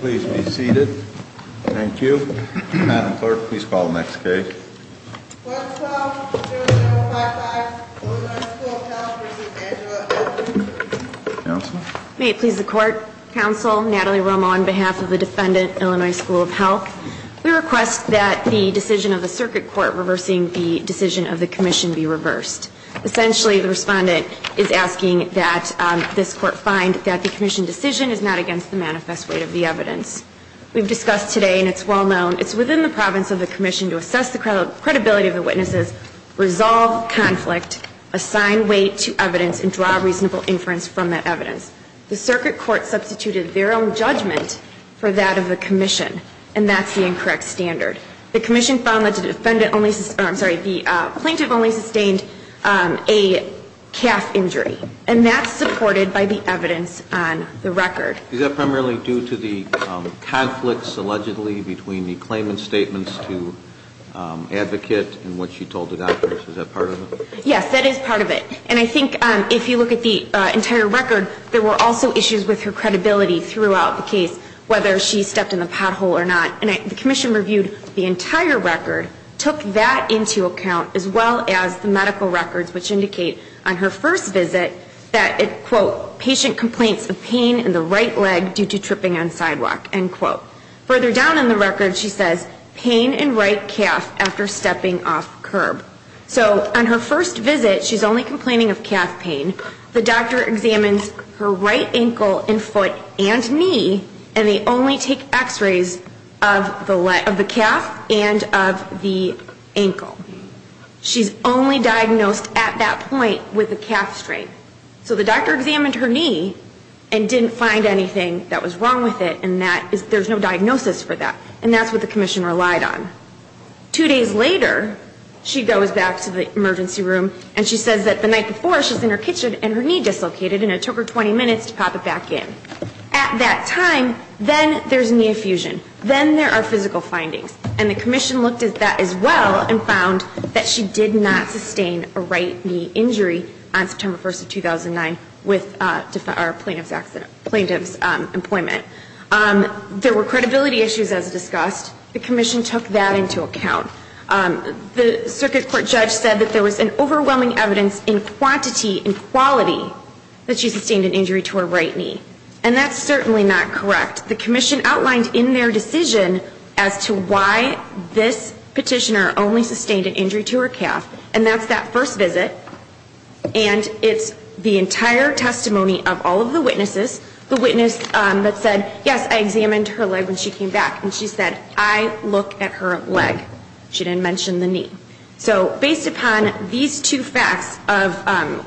Please be seated. Thank you. Madam Clerk, please call the next case. Clerk's Call, Court Number 5-5, Illinois School of Health v. Angela Atkins. May it please the Court, Counsel, Natalie Romo on behalf of the Defendant, Illinois School of Health. We request that the decision of the Circuit Court reversing the decision of the Commission be reversed. Essentially, the Respondent is asking that this Court find that the Commission decision is not against the manifest weight of the evidence. We've discussed today, and it's well known, it's within the province of the Commission to assess the credibility of the witnesses, resolve conflict, assign weight to evidence, and draw reasonable inference from that evidence. The Circuit Court substituted their own judgment for that of the Commission, and that's the incorrect standard. The Commission found that the plaintiff only sustained a calf injury, and that's supported by the evidence on the record. Is that primarily due to the conflicts, allegedly, between the claimant's statements to advocate and what she told the doctors? Is that part of it? Yes, that is part of it. And I think if you look at the entire record, there were also issues with her credibility throughout the case, whether she stepped in the pothole or not. And the Commission reviewed the entire record, took that into account, as well as the medical records, which indicate on her first visit that, quote, patient complains of pain in the right leg due to tripping on sidewalk, end quote. Further down in the record, she says pain in right calf after stepping off curb. So on her first visit, she's only complaining of calf pain. The doctor examines her right ankle and foot and knee, and they only take x-rays of the calf and of the ankle. She's only diagnosed at that point with a calf strain. So the doctor examined her knee and didn't find anything that was wrong with it, and there's no diagnosis for that. And that's what the Commission relied on. Two days later, she goes back to the emergency room, and she says that the night before, she was in her kitchen and her knee dislocated, and it took her 20 minutes to pop it back in. At that time, then there's knee effusion. Then there are physical findings. And the Commission looked at that as well and found that she did not sustain a right knee injury on September 1st of 2009 with plaintiff's employment. There were credibility issues as discussed. The Commission took that into account. The circuit court judge said that there was an overwhelming evidence in quantity and quality that she sustained an injury to her right knee. And that's certainly not correct. The Commission outlined in their decision as to why this petitioner only sustained an injury to her calf. And that's that first visit, and it's the entire testimony of all of the witnesses. The witness that said, yes, I examined her leg when she came back, and she said, I look at her leg. She didn't mention the knee. So based upon these two facts of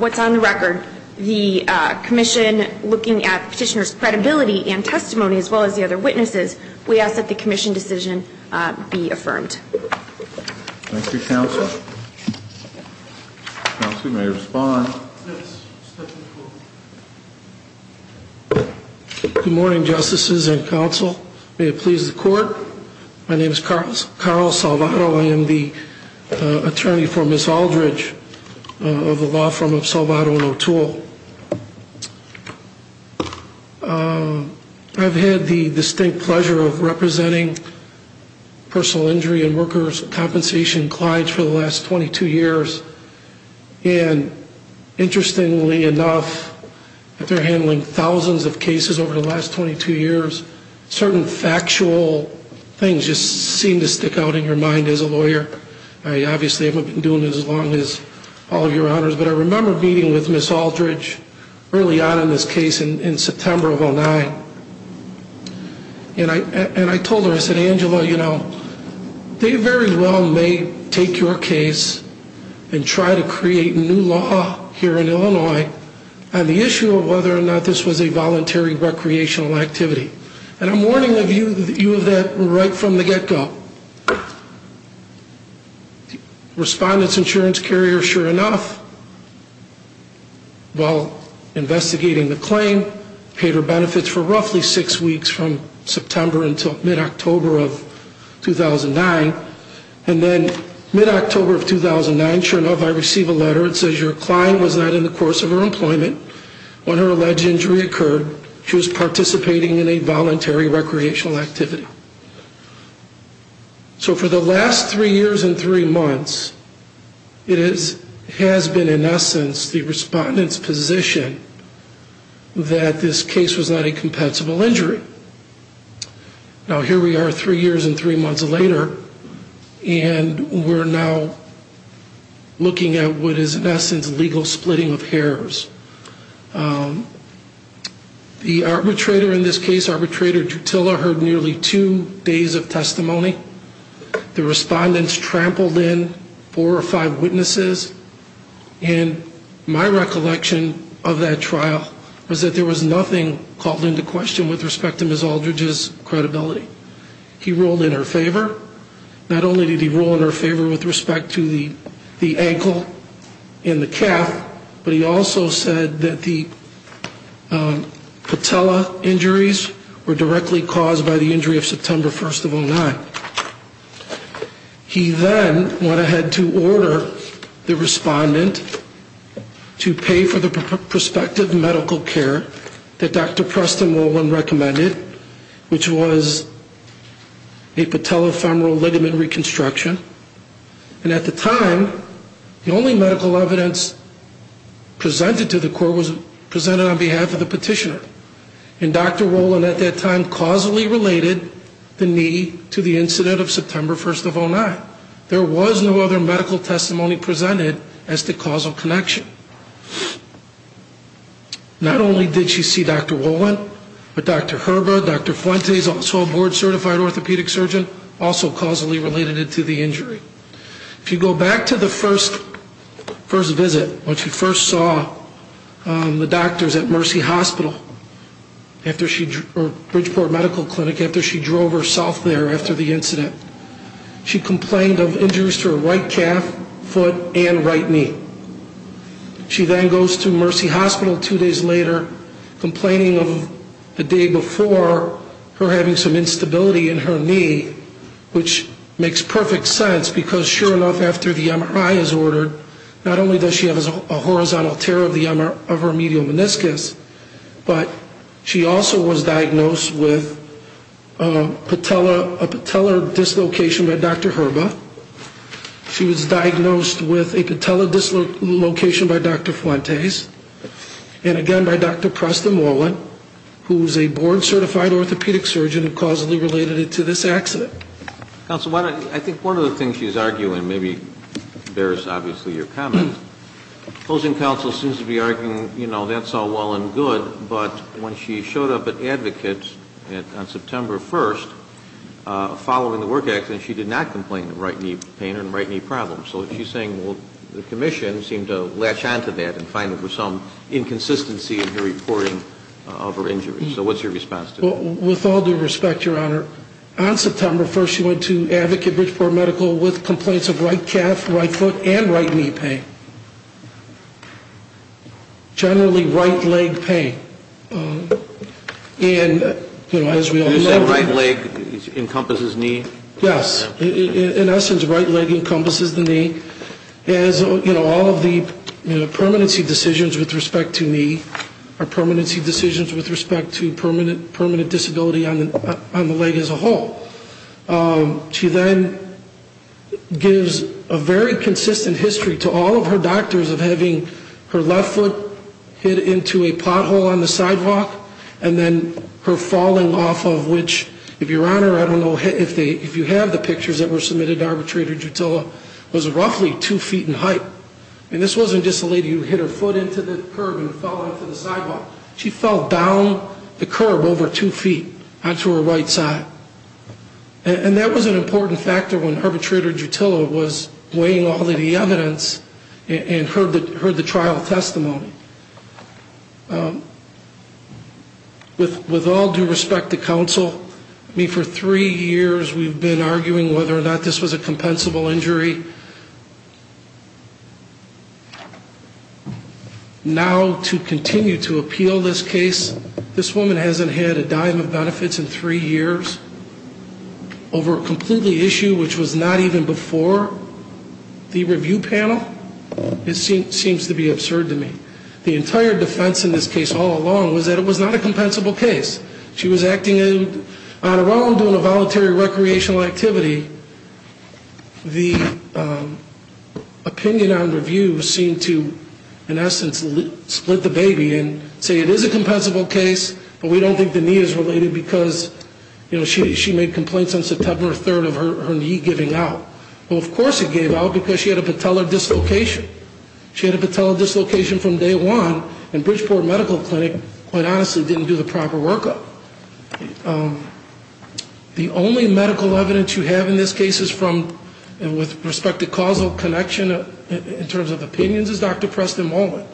what's on the record, the Commission looking at the petitioner's credibility and testimony as well as the other witnesses, we ask that the Commission decision be affirmed. Thank you, Counsel. Counsel, you may respond. Good morning, Justices and Counsel. May it please the Court. My name is Carl Salvato. I am the attorney for Ms. Aldridge of the law firm of Salvato & O'Toole. I've had the distinct pleasure of representing personal injury and workers' compensation clients for the last 22 years. And interestingly enough, after handling thousands of cases over the last 22 years, certain factual things just seem to stick out in your mind as a lawyer. I obviously haven't been doing this as long as all of your honors, but I remember meeting with Ms. Aldridge early on in this case in September of 09. And I told her, I said, Angela, you know, they very well may take your case and try to create new law here in Illinois on the issue of whether or not this was a voluntary recreational activity. And I'm warning you of that right from the get-go. Respondent's insurance carrier, sure enough, while investigating the claim, paid her benefits for roughly six weeks from September until mid-October of 2009. And then mid-October of 2009, sure enough, I receive a letter that says your client was not in the course of her employment. When her alleged injury occurred, she was participating in a voluntary recreational activity. So for the last three years and three months, it has been, in essence, the respondent's position that this case was not a compensable injury. Now, here we are three years and three months later, and we're now looking at what is, in essence, legal splitting of hairs. The arbitrator in this case, arbitrator Drutilla, heard nearly two days of testimony. The respondents trampled in four or five witnesses. And my recollection of that trial was that there was nothing called into question with respect to Ms. Aldridge's credibility. He ruled in her favor. Not only did he rule in her favor with respect to the ankle and the calf, but he also said that the patella injuries were directly caused by the injury of September 1st of 2009. He then went ahead to order the respondent to pay for the prospective medical care that Dr. Preston-Wolwin recommended, which was a patella follow-up. And at the time, the only medical evidence presented to the court was presented on behalf of the petitioner. And Dr. Wolwin, at that time, causally related the knee to the incident of September 1st of 2009. There was no other medical testimony presented as the causal connection. Not only did she see Dr. Wolwin, but Dr. Herber, Dr. Fuentes, also a board-certified orthopedic surgeon, also saw Dr. Preston-Wolwin. And Dr. Herber also causally related it to the injury. If you go back to the first visit, when she first saw the doctors at Mercy Hospital, Bridgeport Medical Clinic, after she drove herself there after the incident, she complained of injuries to her right calf, foot, and right knee. She then goes to Mercy Hospital two days later, complaining of the day before, her having some instability in her knee, which was caused by the knee injury. Which makes perfect sense, because sure enough, after the MRI is ordered, not only does she have a horizontal tear of her medial meniscus, but she also was diagnosed with a patella dislocation by Dr. Herber. She was diagnosed with a patella dislocation by Dr. Fuentes, and again by Dr. Preston-Wolwin, who is a board-certified orthopedic surgeon, and causally related it to this accident. Counsel, I think one of the things she's arguing maybe bears, obviously, your comment. Closing counsel seems to be arguing, you know, that's all well and good, but when she showed up at Advocates on September 1st, following the work accident, she did not complain of right knee pain and right knee problems. So she's saying, well, the commission seemed to latch onto that and find there was some inconsistency in her reporting of her injury. Well, with all due respect, Your Honor, on September 1st, she went to Advocate Bridgeport Medical with complaints of right calf, right foot, and right knee pain. Generally, right leg pain. And, you know, as we all know... You're saying right leg encompasses knee? Yes. In essence, right leg encompasses the knee. As, you know, all of the permanency decisions with respect to knee are permanency decisions with respect to permanent injury. So she's saying, well, the commission seemed to latch onto that and find there was some inconsistency in her reporting of her injury. She then gives a very consistent history to all of her doctors of having her left foot hit into a pothole on the sidewalk, and then her falling off of which, if Your Honor, I don't know if you have the pictures that were submitted to Arbitrator Jutilla, was roughly two feet in height. I mean, this wasn't just a lady who hit her foot into the curb and fell off the sidewalk. It was a woman who fell off the sidewalk and hit her right foot into a pothole on the sidewalk, and then her left foot hit her right foot onto her right side. And that was an important factor when Arbitrator Jutilla was weighing all of the evidence and heard the trial testimony. With all due respect to counsel, I mean, for three years we've been arguing whether or not this was a compensable injury. And to say we have benefits in three years over a completely issue which was not even before the review panel, it seems to be absurd to me. The entire defense in this case all along was that it was not a compensable case. She was acting on her own, doing a voluntary recreational activity. The opinion on review seemed to, in essence, split the baby and say it is a compensable case, but we don't think the need is related to the injury. It's not related because, you know, she made complaints on September 3rd of her knee giving out. Well, of course it gave out because she had a patellar dislocation. She had a patellar dislocation from day one, and Bridgeport Medical Clinic, quite honestly, didn't do the proper workup. The only medical evidence you have in this case is from, and with respect to causal connection in terms of opinions, is Dr. Preston Mullen.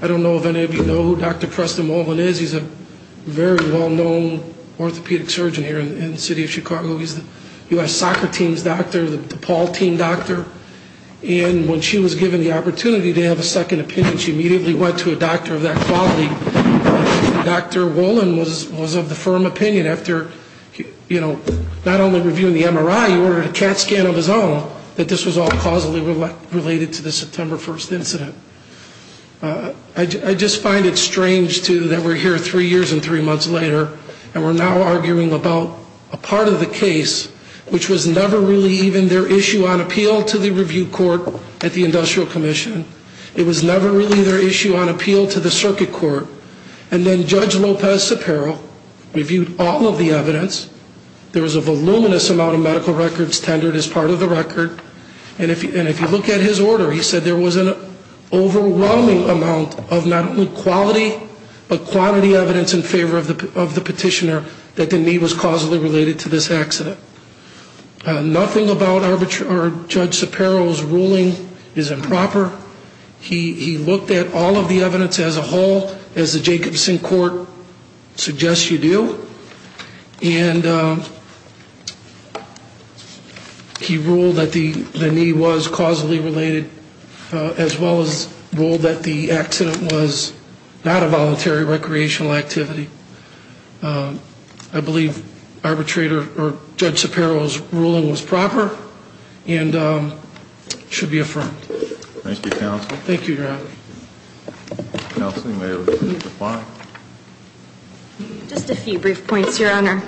I don't know if any of you know who Dr. Preston Mullen is. He's a very well-known doctor. He's an orthopedic surgeon here in the city of Chicago. He's the U.S. soccer team's doctor, the DePaul team doctor. And when she was given the opportunity to have a second opinion, she immediately went to a doctor of that quality. Dr. Mullen was of the firm opinion after, you know, not only reviewing the MRI, he ordered a CAT scan of his own, that this was all causally related to the September 1st incident. I just find it strange, too, that we're here three years and three months later, and we're now arguing about a part of the case, which was never really even their issue on appeal to the review court at the Industrial Commission. It was never really their issue on appeal to the circuit court. And then Judge Lopez-Sapero reviewed all of the evidence. There was a voluminous amount of medical records tendered as part of the record. And if you look at his order, he said there was a large amount of medical records tendered. There was an overwhelming amount of not only quality, but quantity evidence in favor of the petitioner that the knee was causally related to this accident. Nothing about Judge Sapero's ruling is improper. He looked at all of the evidence as a whole, as the Jacobson court suggests you do. And he ruled that the knee was causally related as well as causally related to the accident. He also ruled that the accident was not a voluntary recreational activity. I believe arbitrator or Judge Sapero's ruling was proper and should be affirmed. Thank you, Your Honor. Just a few brief points, Your Honor.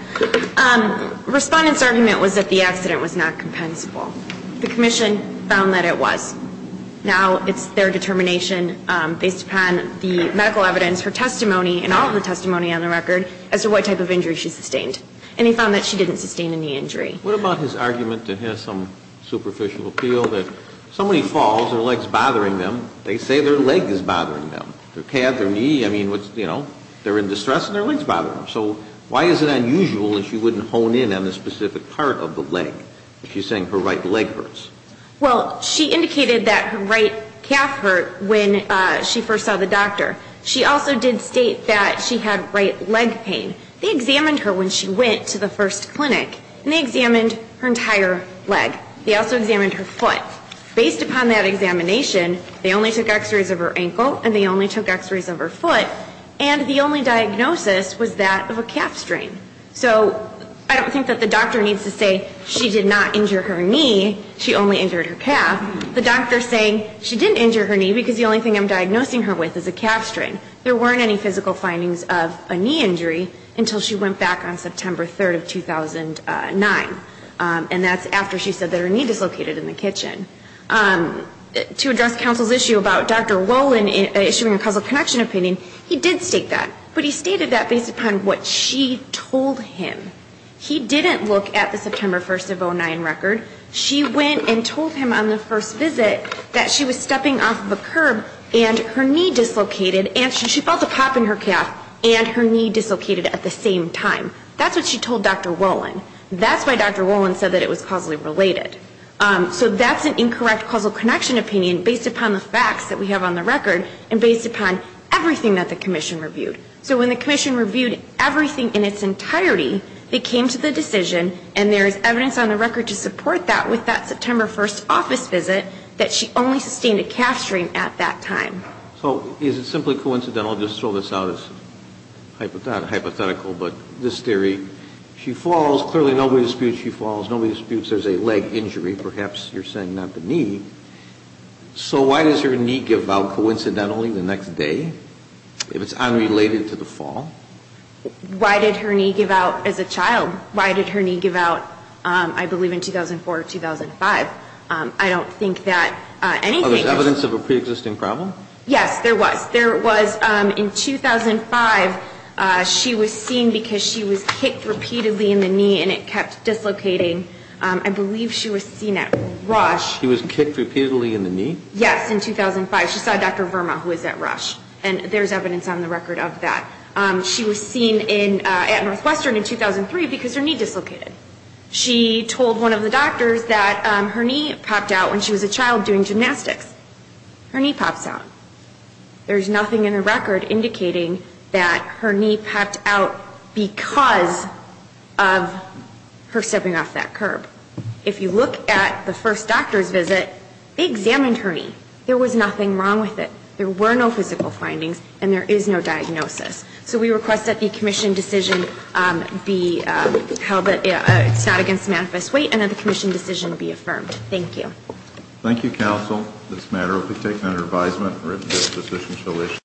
Respondent's argument was that the accident was not compensable. The Commission found that it was. Now it's their determination based upon the medical evidence, her testimony, and all of the testimony on the record as to what type of injury she sustained. And they found that she didn't sustain any injury. What about his argument that has some superficial appeal that somebody falls, their leg's bothering them, they say their leg is bothering them, their calf, their knee, I mean, you know, they're in distress and their leg's bothering them. So why is it unusual that she wouldn't hone in on the specific part of the leg if she's saying her right leg hurts? Well, she indicated that her right calf hurt when she first saw the doctor. She also did state that she had right leg pain. They examined her when she went to the first clinic. And they examined her entire leg. They also examined her foot. Based upon that examination, they only took x-rays of her ankle and they only took x-rays of her foot. And the only diagnosis was that of a calf strain. So I don't think that the doctor needs to say she did not injure her knee, she only injured her calf. The doctor's saying she didn't injure her knee because the only thing I'm diagnosing her with is a calf strain. There weren't any physical findings of a knee injury until she went back on September 3rd of 2009. And that's after she said that her knee dislocated in the kitchen. To address counsel's issue about Dr. Rowland issuing a causal connection opinion, he did state that. But he stated that based upon what she told him. He didn't look at the September 1st of 2009 record. She went and told him on the first visit that she was stepping off of a curb and her knee dislocated and she felt a pop in her calf and her knee dislocated at the same time. That's what she told Dr. Rowland. That's why Dr. Rowland said that it was causally related. So that's an incorrect causal connection opinion based upon the facts that we have on the record and based upon everything that the commission reviewed. So when the commission reviewed everything in its entirety, they came to the decision and there is evidence on the record to support that with that September 1st office visit that she only sustained a calf strain at that time. So is it simply coincidental, I'll just throw this out as hypothetical, but this theory, she falls, clearly nobody disputes she falls, nobody disputes there's a leg injury, perhaps you're saying not the knee. So why does her knee give out coincidentally the next day if it's unrelated to the fall? Why did her knee give out as a child? Why did her knee give out, I believe in 2004 or 2005? I don't think that anything... Oh, there's evidence of a preexisting problem? Yes, there was. There was in 2005, she was seen because she was kicked repeatedly in the knee and it kept dislocating. I believe she was seen at Rush. She was kicked repeatedly in the knee? Yes, in 2005. She saw Dr. Verma who was at Rush and there's evidence on the record of that. She was seen at Northwestern in 2003 because her knee dislocated. She told one of the doctors that her knee popped out when she was a child doing gymnastics. Her knee pops out. There's nothing in the record indicating that her knee popped out because of her stepping off that curb. If you look at the first doctor's visit, they examined her knee. There was nothing wrong with it. There were no physical findings and there is no diagnosis. So we request that the Commission decision be held against manifest weight and that the Commission decision be affirmed. Thank you.